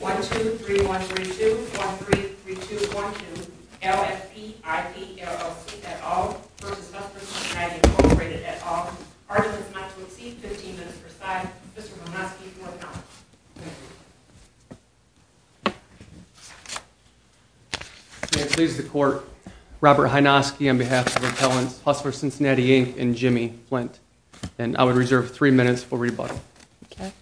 1, 2, 3, 1, 3, 2, 1, 3, 3, 2, 1, 2, LFP IP LLC, et al. v. Hustler Cincinnati Incorporated, et al. Artisans not to exceed 15 minutes per side. Mr. Hynoski for appellant. May it please the court, Robert Hynoski on behalf of appellants Hustler Cincinnati Inc. and Jimmy Flint. And I would reserve three minutes for rebuttal. Okay.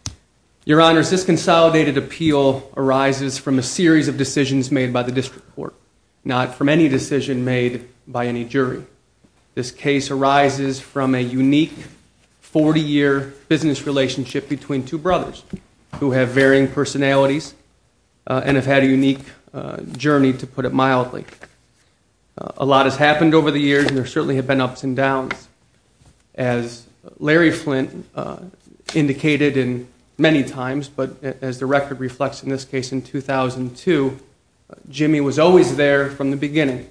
Your honors, this consolidated appeal arises from a series of decisions made by the district court, not from any decision made by any jury. This case arises from a unique 40-year business relationship between two brothers who have varying personalities and have had a unique journey, to put it mildly. A lot has happened over the years and there certainly have been ups and downs. As Larry Flint indicated many times, but as the record reflects in this case in 2002, Jimmy was always there from the beginning.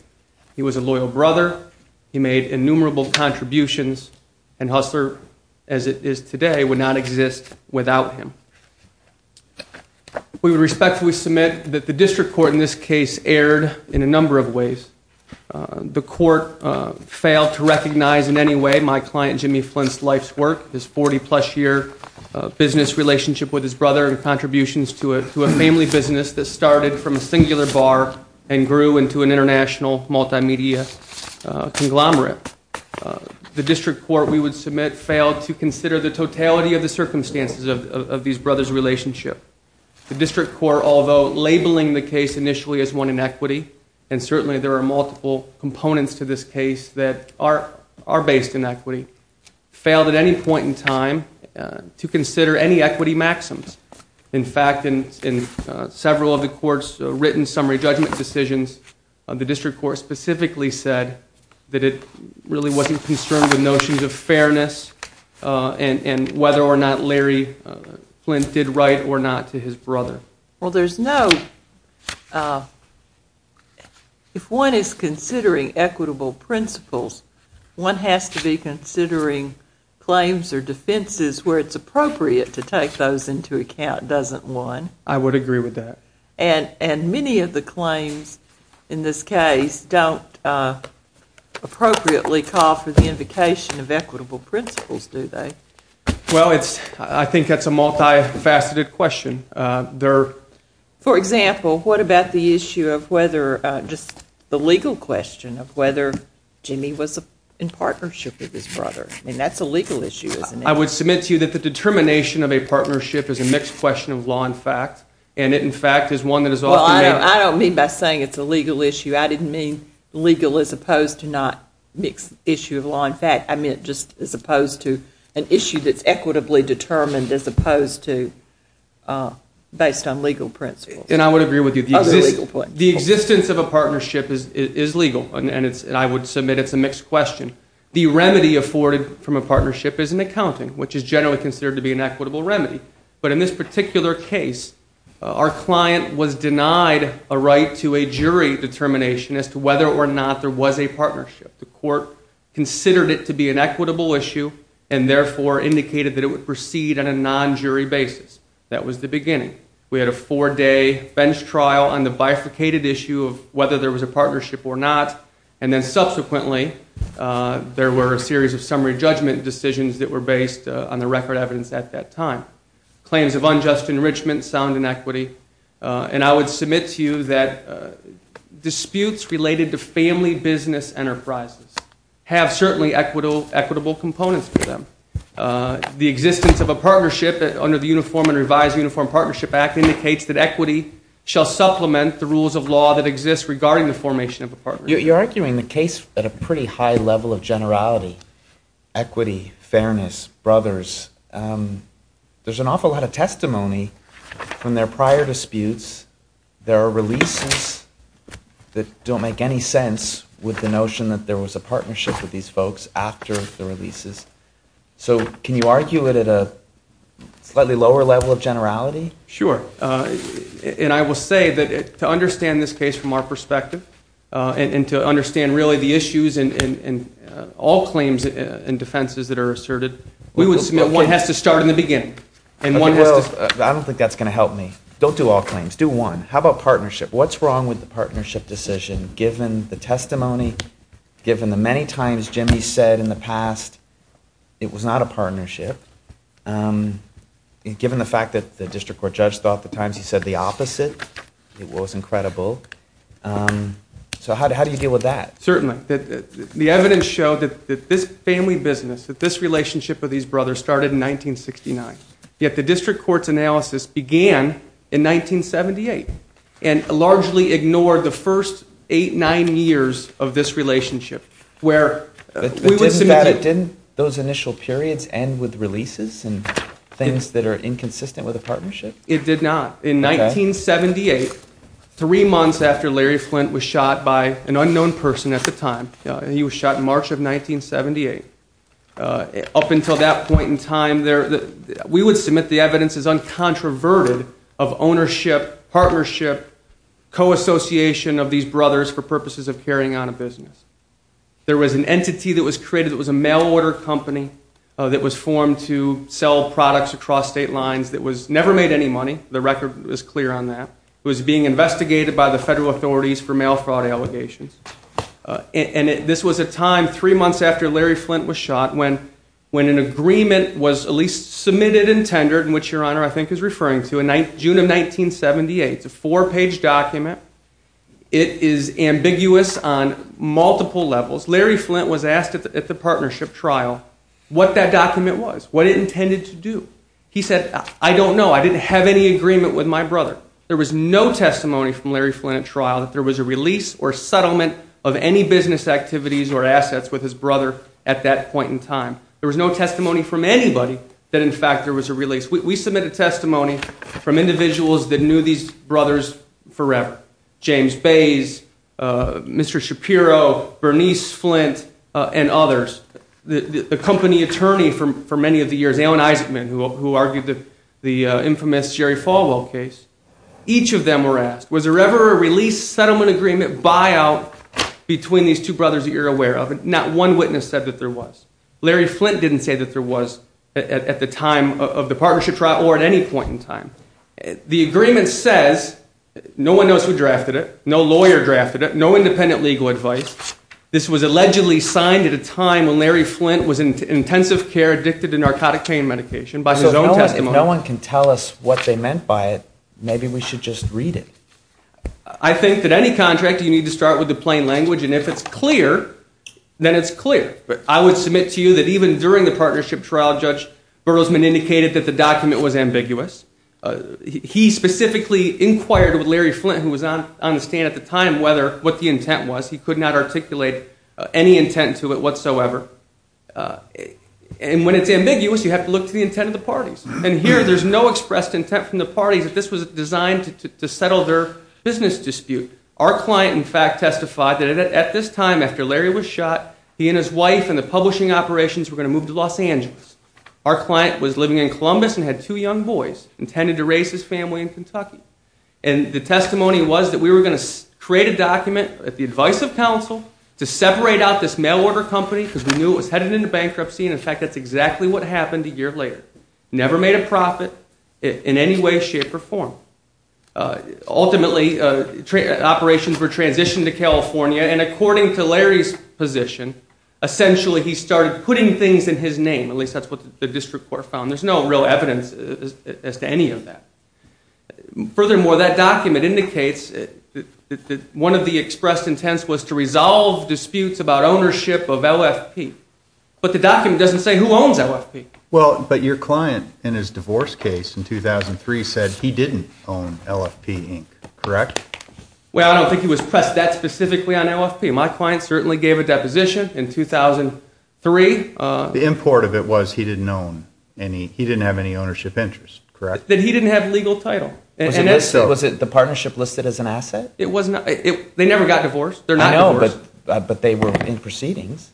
He was a loyal brother. He made innumerable contributions. And Hustler, as it is today, would not exist without him. We respectfully submit that the district court in this case erred in a number of ways. The court failed to recognize in any way my client Jimmy Flint's life's work. His 40-plus year business relationship with his brother and contributions to a family business that started from a singular bar and grew into an international multimedia conglomerate. The district court we would submit failed to consider the totality of the circumstances of these brothers' relationship. The district court, although labeling the case initially as one in equity, and certainly there are multiple components to this case that are based in equity, failed at any point in time to consider any equity maxims. In fact, in several of the court's written summary judgment decisions, the district court specifically said that it really wasn't concerned with notions of fairness and whether or not Larry Flint did right or not to his brother. Well, there's no, if one is considering equitable principles, one has to be considering claims or defenses where it's appropriate to take those into account, doesn't one? I would agree with that. And many of the claims in this case don't appropriately call for the invocation of equitable principles, do they? Well, I think that's a multifaceted question. For example, what about the issue of whether, just the legal question of whether Jimmy was in partnership with his brother? I mean, that's a legal issue, isn't it? I would submit to you that the determination of a partnership is a mixed question of law and fact, and it, in fact, is one that is often made up. Well, I don't mean by saying it's a legal issue. I didn't mean legal as opposed to not mixed issue of law and fact. I meant just as opposed to an issue that's equitably determined as opposed to based on legal principles. And I would agree with you. The existence of a partnership is legal, and I would submit it's a mixed question. The remedy afforded from a partnership is an accounting, which is generally considered to be an equitable remedy. But in this particular case, our client was denied a right to a jury determination as to whether or not there was a partnership. The court considered it to be an equitable issue and, therefore, indicated that it would proceed on a non-jury basis. That was the beginning. We had a four-day bench trial on the bifurcated issue of whether there was a partnership or not. And then, subsequently, there were a series of summary judgment decisions that were based on the record evidence at that time. Claims of unjust enrichment, sound inequity. And I would submit to you that disputes related to family business enterprises have certainly equitable components for them. The existence of a partnership under the Uniform and Revised Uniform Partnership Act indicates that equity shall supplement the rules of law that exist regarding the formation of a partnership. You're arguing the case at a pretty high level of generality. Equity, fairness, brothers. There's an awful lot of testimony from their prior disputes. There are releases that don't make any sense with the notion that there was a partnership with these folks after the releases. So can you argue it at a slightly lower level of generality? Sure. And I will say that to understand this case from our perspective and to understand really the issues and all claims and defenses that are asserted, we would submit one has to start in the beginning. I don't think that's going to help me. Don't do all claims. Do one. How about partnership? What's wrong with the partnership decision given the testimony, given the many times Jimmy said in the past it was not a partnership, given the fact that the district court judge thought the times he said the opposite, it was incredible. So how do you deal with that? Certainly. The evidence showed that this family business, that this relationship with these brothers started in 1969. Yet the district court's analysis began in 1978 and largely ignored the first eight, nine years of this relationship where we would submit. Didn't those initial periods end with releases and things that are inconsistent with a partnership? It did not. In 1978, three months after Larry Flint was shot by an unknown person at the time, he was shot in March of 1978. Up until that point in time, we would submit the evidence as uncontroverted of ownership, partnership, co-association of these brothers for purposes of carrying on a business. There was an entity that was created that was a mail order company that was formed to sell products across state lines that never made any money. The record was clear on that. It was being investigated by the federal authorities for mail fraud allegations. And this was a time, three months after Larry Flint was shot, when an agreement was at least submitted and tendered, which Your Honor I think is referring to, in June of 1978. It's a four-page document. It is ambiguous on multiple levels. Larry Flint was asked at the partnership trial what that document was, what it intended to do. He said, I don't know. I didn't have any agreement with my brother. There was no testimony from Larry Flint at trial that there was a release or settlement of any business activities or assets with his brother at that point in time. There was no testimony from anybody that, in fact, there was a release. We submitted testimony from individuals that knew these brothers forever. James Bays, Mr. Shapiro, Bernice Flint, and others. The company attorney for many of the years, Alan Eisenman, who argued the infamous Jerry Falwell case, each of them were asked, was there ever a release, settlement, agreement, buyout between these two brothers that you're aware of? And not one witness said that there was. Larry Flint didn't say that there was at the time of the partnership trial or at any point in time. The agreement says no one knows who drafted it, no lawyer drafted it, no independent legal advice. This was allegedly signed at a time when Larry Flint was in intensive care addicted to narcotic pain medication by his own testimony. If no one can tell us what they meant by it, maybe we should just read it. I think that any contract, you need to start with the plain language, and if it's clear, then it's clear. But I would submit to you that even during the partnership trial, Judge Berlesman indicated that the document was ambiguous. He specifically inquired with Larry Flint, who was on the stand at the time, what the intent was. He could not articulate any intent to it whatsoever. And when it's ambiguous, you have to look to the intent of the parties. And here, there's no expressed intent from the parties that this was designed to settle their business dispute. Our client, in fact, testified that at this time, after Larry was shot, he and his wife and the publishing operations were going to move to Los Angeles. Our client was living in Columbus and had two young boys, intended to raise his family in Kentucky. And the testimony was that we were going to create a document at the advice of counsel to separate out this mail order company because we knew it was headed into bankruptcy, and in fact, that's exactly what happened a year later. Never made a profit in any way, shape, or form. Ultimately, operations were transitioned to California, and according to Larry's position, essentially he started putting things in his name, at least that's what the district court found. There's no real evidence as to any of that. Furthermore, that document indicates that one of the expressed intents was to resolve disputes about ownership of LFP. But the document doesn't say who owns LFP. Well, but your client in his divorce case in 2003 said he didn't own LFP, correct? Well, I don't think he was pressed that specifically on LFP. My client certainly gave a deposition in 2003. The import of it was he didn't own any, he didn't have any ownership interest, correct? That he didn't have legal title. Was it the partnership listed as an asset? It was not. They never got divorced. I know, but they were in proceedings.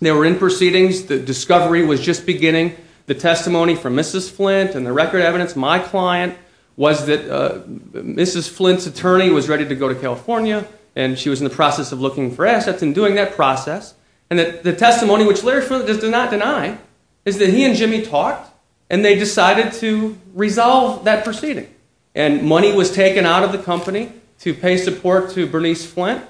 They were in proceedings. The discovery was just beginning. The testimony from Mrs. Flint and the record evidence, my client, was that Mrs. Flint's attorney was ready to go to California, and she was in the process of looking for assets and doing that process. And the testimony, which Larry does not deny, is that he and Jimmy talked, and they decided to resolve that proceeding. And money was taken out of the company to pay support to Bernice Flint,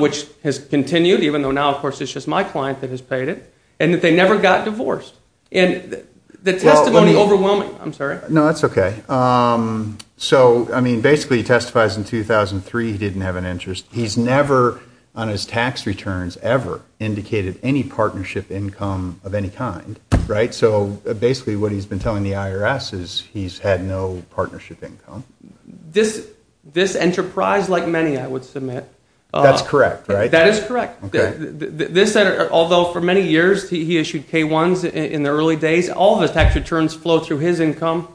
which has continued, even though now, of course, it's just my client that has paid it, and that they never got divorced. And the testimony overwhelming. I'm sorry. No, that's okay. So, I mean, basically he testifies in 2003 he didn't have an interest. He's never on his tax returns ever indicated any partnership income of any kind, right? So basically what he's been telling the IRS is he's had no partnership income. This enterprise, like many, I would submit. That's correct, right? That is correct. Although for many years he issued K-1s in the early days, all of his tax returns flow through his income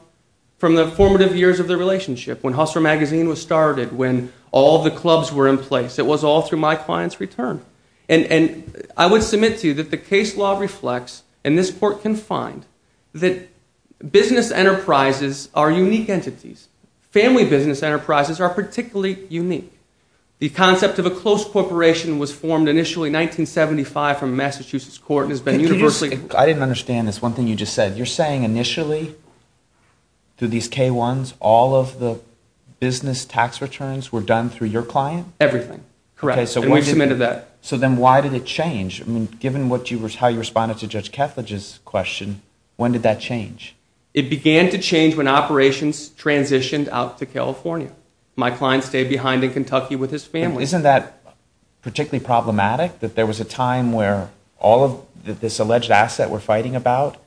from the formative years of the relationship, when Hustler Magazine was started, when all the clubs were in place. It was all through my client's return. And I would submit to you that the case law reflects, and this court can find, that business enterprises are unique entities. Family business enterprises are particularly unique. The concept of a close corporation was formed initially in 1975 from a Massachusetts court and has been universally- I didn't understand this. One thing you just said. You're saying initially through these K-1s all of the business tax returns were done through your client? Everything. Correct. And we've submitted that. So then why did it change? I mean, given how you responded to Judge Kethledge's question, when did that change? It began to change when operations transitioned out to California. My client stayed behind in Kentucky with his family. Isn't that particularly problematic that there was a time where all of this alleged asset we're fighting about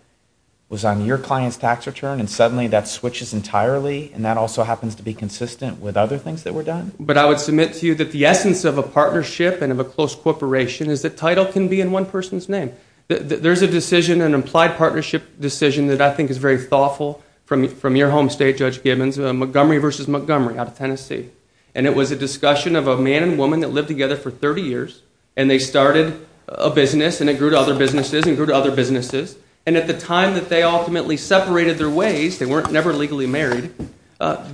was on your client's tax return and suddenly that switches entirely and that also happens to be consistent with other things that were done? But I would submit to you that the essence of a partnership and of a close corporation is that title can be in one person's name. There's a decision, an implied partnership decision, that I think is very thoughtful from your home state, Judge Gibbons, Montgomery v. Montgomery out of Tennessee, and it was a discussion of a man and woman that lived together for 30 years and they started a business and it grew to other businesses and grew to other businesses, and at the time that they ultimately separated their ways, they were never legally married,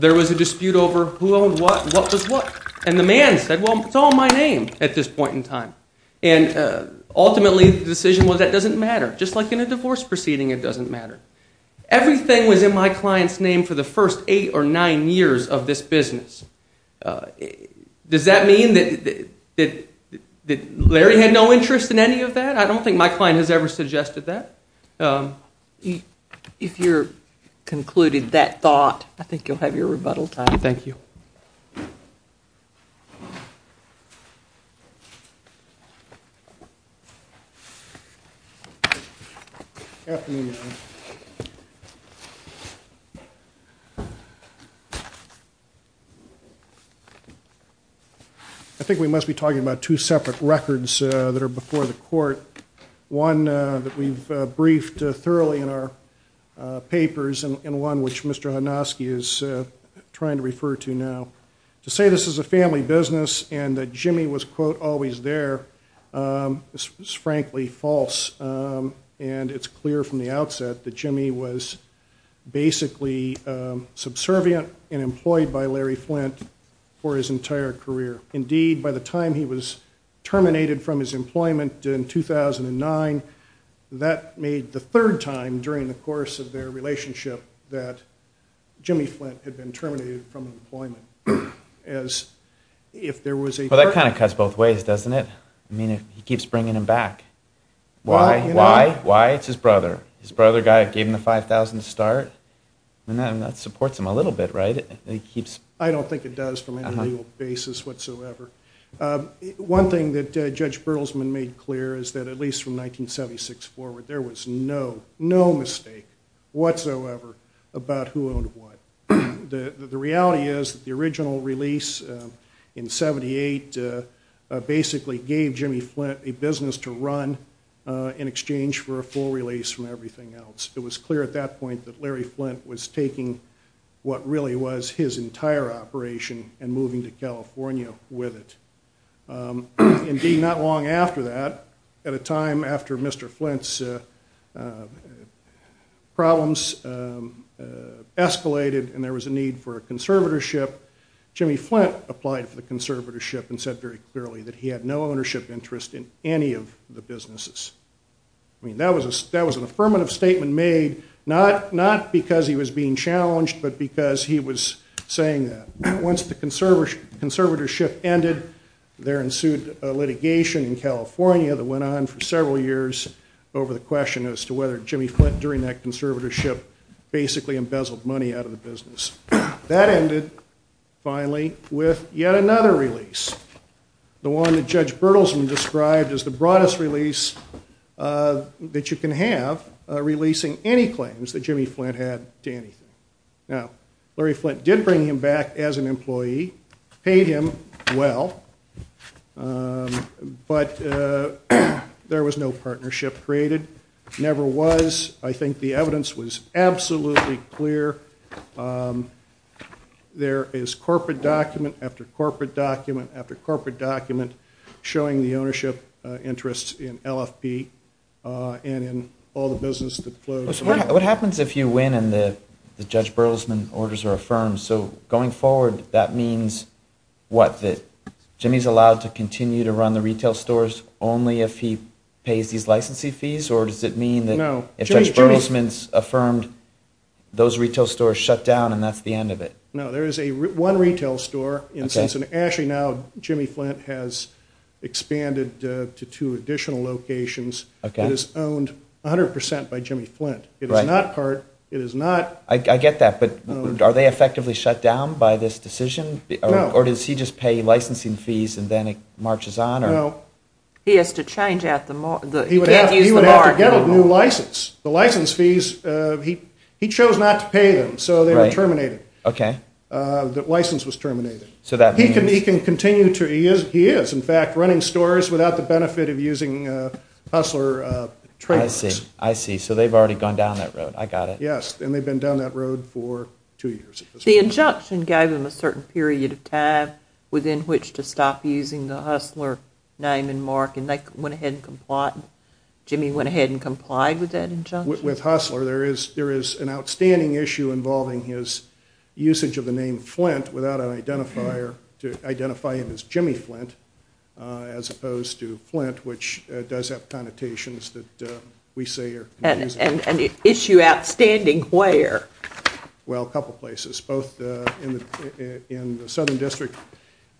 there was a dispute over who owned what and what was what. And the man said, well, it's all in my name at this point in time. And ultimately the decision was that doesn't matter. Just like in a divorce proceeding, it doesn't matter. Everything was in my client's name for the first eight or nine years of this business. Does that mean that Larry had no interest in any of that? I don't think my client has ever suggested that. If you've concluded that thought, I think you'll have your rebuttal time. Thank you. Good afternoon. I think we must be talking about two separate records that are before the court, one that we've briefed thoroughly in our papers and one which Mr. Hanosky is trying to refer to now. To say this is a family business and that Jimmy was, quote, always there is frankly false, and it's clear from the outset that Jimmy was basically subservient and employed by Larry Flint for his entire career. Indeed, by the time he was terminated from his employment in 2009, that made the third time during the course of their relationship that Jimmy Flint had been terminated from employment. Well, that kind of cuts both ways, doesn't it? I mean, he keeps bringing him back. Why? Why? Why? It's his brother. His brother gave him the $5,000 to start. That supports him a little bit, right? I don't think it does from a legal basis whatsoever. One thing that Judge Bertelsman made clear is that at least from 1976 forward, there was no, no mistake whatsoever about who owned what. The reality is that the original release in 78 basically gave Jimmy Flint a business to run in exchange for a full release from everything else. It was clear at that point that Larry Flint was taking what really was his entire operation and moving to California with it. Indeed, not long after that, at a time after Mr. Flint's problems escalated and there was a need for a conservatorship, Jimmy Flint applied for the conservatorship and said very clearly that he had no ownership interest in any of the businesses. I mean, that was an affirmative statement made not because he was being challenged but because he was saying that. Once the conservatorship ended, there ensued litigation in California that went on for several years over the question as to whether Jimmy Flint, during that conservatorship, basically embezzled money out of the business. That ended, finally, with yet another release, the one that Judge Bertelsman described as the broadest release that you can have, releasing any claims that Jimmy Flint had to anything. Now, Larry Flint did bring him back as an employee, paid him well, but there was no partnership created, never was. I think the evidence was absolutely clear. There is corporate document after corporate document after corporate document showing the ownership interest in LFP and in all the business that flows. What happens if you win and the Judge Bertelsman orders are affirmed? So, going forward, that means what? That Jimmy's allowed to continue to run the retail stores only if he pays these licensee fees or does it mean that if Judge Bertelsman's affirmed, those retail stores shut down and that's the end of it? No, there is one retail store. Actually, now, Jimmy Flint has expanded to two additional locations that is owned 100% by Jimmy Flint. It is not part, it is not. I get that, but are they effectively shut down by this decision or does he just pay licensing fees and then it marches on? No. He has to change out the market. He would have to get a new license. The license fees, he chose not to pay them, so they were terminated. Okay. The license was terminated. So that means? He can continue to, he is, in fact, running stores without the benefit of using hustler trademarks. I see. I see. So they've already gone down that road. I got it. Yes, and they've been down that road for two years. The injunction gave him a certain period of time within which to stop using the hustler name and mark and they went ahead and complied, Jimmy went ahead and complied with that injunction? With hustler, there is an outstanding issue involving his usage of the name Flint without an identifier to identify him as Jimmy Flint as opposed to Flint, which does have connotations that we say are. And the issue outstanding where? Well, a couple places, both in the southern district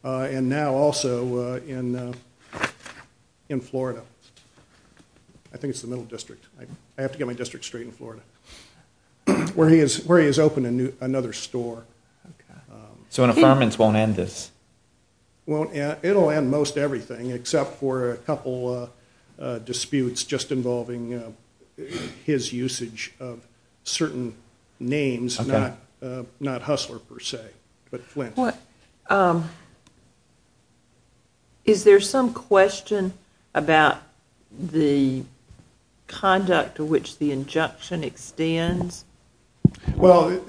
and now also in Florida. I think it's the middle district. I have to get my district straight in Florida, where he has opened another store. Okay. So an affirmance won't end this? It will end most everything except for a couple disputes just involving his usage of certain names, not hustler per se, but Flint. Is there some question about the conduct to which the injunction extends? Well,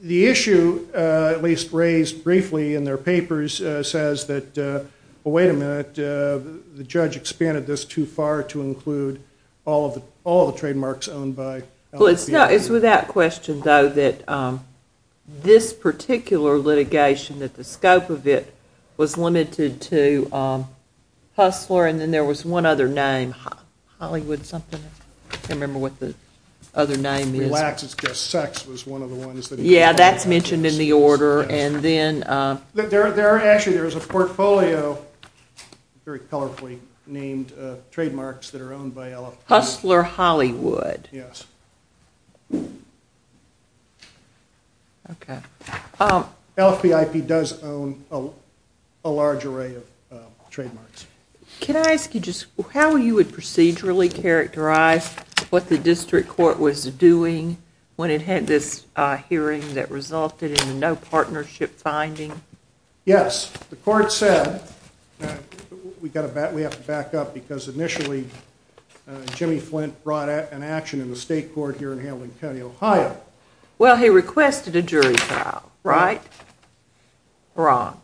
the issue, at least raised briefly in their papers, says that, well, wait a minute, the judge expanded this too far to include all of the trademarks owned by. Well, it's without question, though, that this particular litigation, that the scope of it was limited to hustler and then there was one other name, Hollywood something. I can't remember what the other name is. Relax, it's just sex was one of the ones. Yeah, that's mentioned in the order. Actually, there is a portfolio, very colorfully named, of trademarks that are owned by LFPIP. Hustler Hollywood. Yes. Okay. LFPIP does own a large array of trademarks. Can I ask you just how you would procedurally characterize what the district court was doing when it had this hearing that resulted in no partnership finding? Yes. The court said, we have to back up because initially Jimmy Flint brought an action in the state court here in Hamilton County, Ohio. Well, he requested a jury trial, right? Wrong.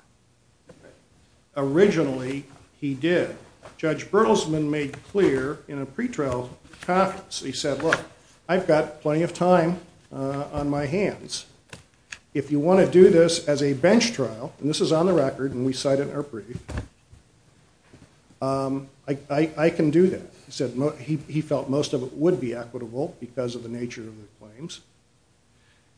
Originally, he did. Judge Bertelsman made clear in a pretrial conference, he said, look, I've got plenty of time on my hands. If you want to do this as a bench trial, and this is on the record and we cite it in our brief, I can do that. He said he felt most of it would be equitable because of the nature of the claims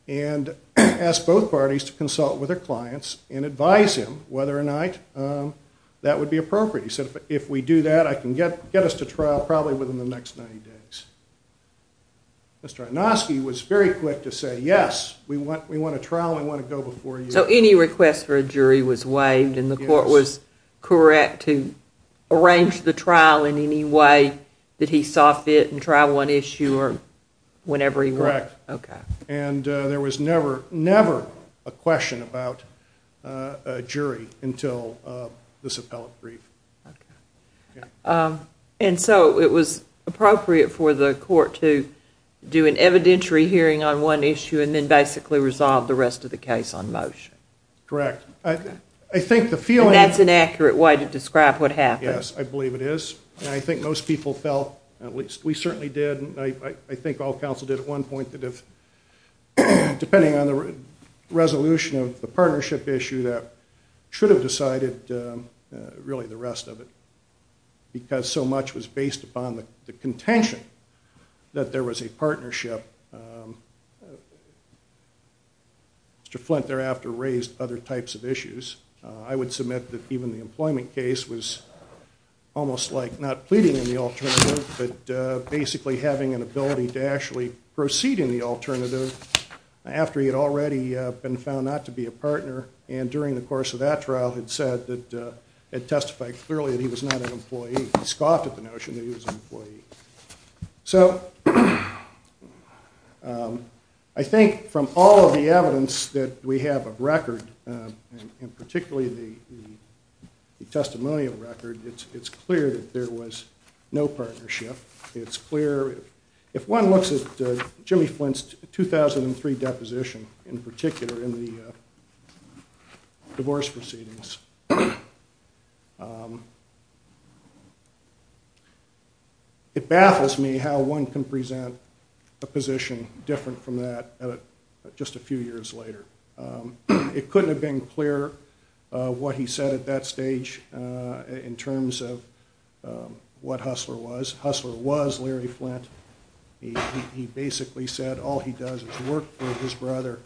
and asked both parties to consult with their clients and advise him whether or not that would be appropriate. He said, if we do that, I can get us to trial probably within the next 90 days. Mr. Anosky was very quick to say, yes, we want a trial and we want to go before you. So any request for a jury was waived and the court was correct to arrange the trial in any way that he saw fit and there was never, never a question about a jury until this appellate brief. And so it was appropriate for the court to do an evidentiary hearing on one issue and then basically resolve the rest of the case on motion. Correct. And that's an accurate way to describe what happened. Yes, I believe it is. I think most people felt, at least we certainly did, and I think all counsel did at one point, that if, depending on the resolution of the partnership issue, that should have decided really the rest of it because so much was based upon the contention that there was a partnership. Mr. Flint thereafter raised other types of issues. I would submit that even the employment case was almost like not pleading in the alternative but basically having an ability to actually proceed in the alternative after he had already been found not to be a partner and during the course of that trial had testified clearly that he was not an employee. He scoffed at the notion that he was an employee. So I think from all of the evidence that we have of record, and particularly the testimonial record, it's clear that there was no partnership. If one looks at Jimmy Flint's 2003 deposition, in particular in the divorce proceedings, it baffles me how one can present a position different from that just a few years later. It couldn't have been clearer what he said at that stage in terms of what Hustler was. Hustler was Larry Flint. He basically said all he does is work for his brother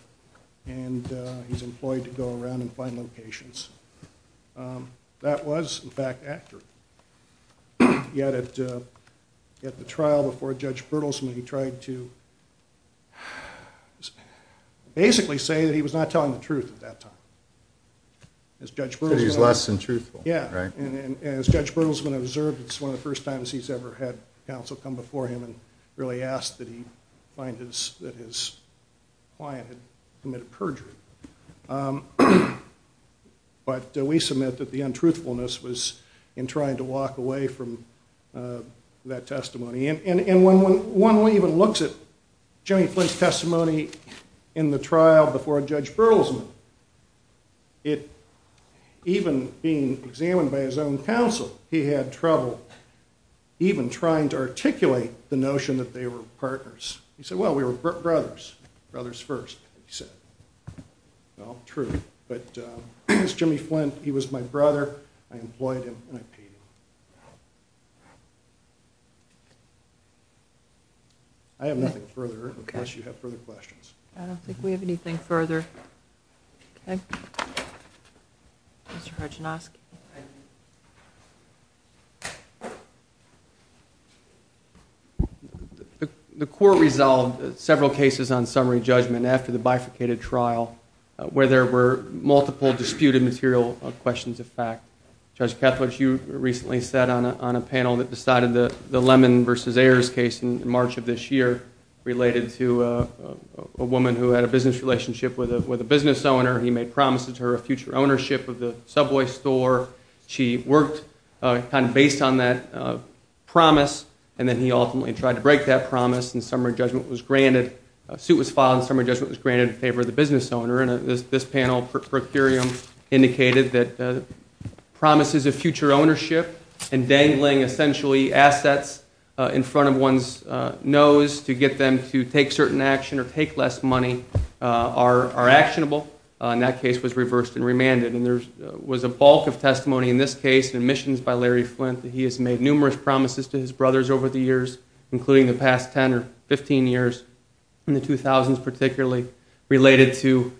and he's employed to go around and find locations. That was, in fact, accurate. Yet at the trial before Judge Bertelsman, he tried to basically say that he was not telling the truth at that time. Because he's less than truthful, right? And as Judge Bertelsman observed, it's one of the first times he's ever had counsel come before him and really ask that he find that his client had committed perjury. But we submit that the untruthfulness was in trying to walk away from that testimony. And when one even looks at Jimmy Flint's testimony in the trial before Judge Bertelsman, even being examined by his own counsel, he had trouble even trying to articulate the notion that they were partners. He said, well, we were brothers. Brothers first, he said. Well, true. But Jimmy Flint, he was my brother. I employed him and I paid him. I have nothing further unless you have further questions. I don't think we have anything further. Mr. Harginowski. The court resolved several cases on summary judgment after the bifurcated trial where there were multiple disputed material questions of fact. Judge Kethledge, you recently sat on a panel that decided the Lemon v. Ayers case in March of this year related to a woman who had a business relationship with a business owner. He made promises to her of future ownership of the Subway store. She worked kind of based on that promise, and then he ultimately tried to break that promise and summary judgment was granted. A suit was filed and summary judgment was granted in favor of the business owner. And this panel, Procurium, indicated that promises of future ownership and dangling essentially assets in front of one's nose to get them to take certain action or take less money are actionable. And that case was reversed and remanded. And there was a bulk of testimony in this case and admissions by Larry Flint that he has made numerous promises to his brothers over the years, including the past 10 or 15 years, in the 2000s particularly, related to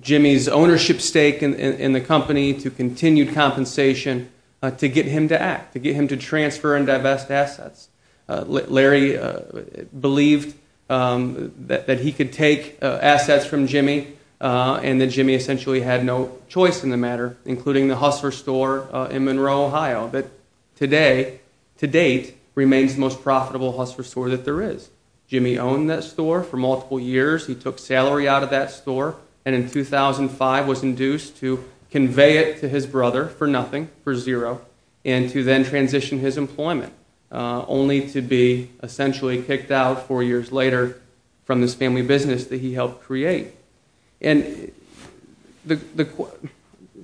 Jimmy's ownership stake in the company, to continued compensation to get him to act, to get him to transfer and divest assets. Larry believed that he could take assets from Jimmy and that Jimmy essentially had no choice in the matter, including the Hussler store in Monroe, Ohio, that today, to date, remains the most profitable Hussler store that there is. Jimmy owned that store for multiple years. He took salary out of that store and in 2005 was induced to convey it to his brother for nothing, for zero, and to then transition his employment, only to be essentially kicked out four years later from this family business that he helped create. And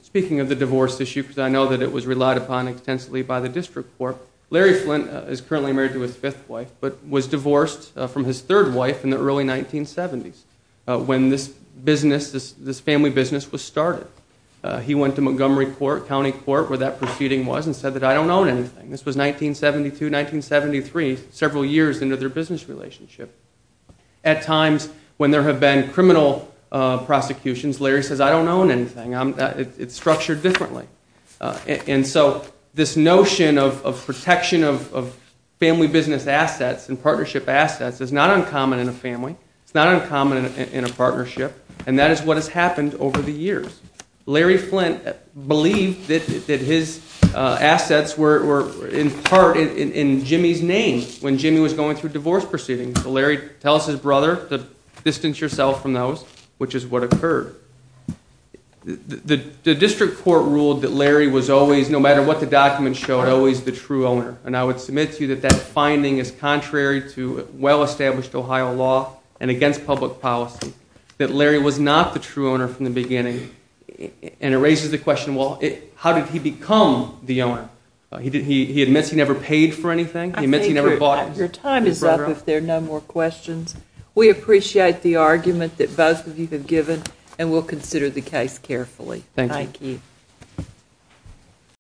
speaking of the divorce issue, because I know that it was relied upon extensively by the district court, Larry Flint is currently married to his fifth wife, but was divorced from his third wife in the early 1970s when this family business was started. He went to Montgomery County Court where that proceeding was and said that, I don't own anything. This was 1972, 1973, several years into their business relationship. At times when there have been criminal prosecutions, Larry says, I don't own anything. It's structured differently. And so this notion of protection of family business assets and partnership assets is not uncommon in a family. It's not uncommon in a partnership. And that is what has happened over the years. Larry Flint believed that his assets were in part in Jimmy's name when Jimmy was going through divorce proceedings. So Larry tells his brother to distance yourself from those, which is what occurred. The district court ruled that Larry was always, no matter what the documents showed, always the true owner. And I would submit to you that that finding is contrary to well-established Ohio law and against public policy, that Larry was not the true owner from the beginning. And it raises the question, well, how did he become the owner? He admits he never paid for anything. He admits he never bought his brother out. Your time is up if there are no more questions. We appreciate the argument that both of you have given and will consider the case carefully. Thank you.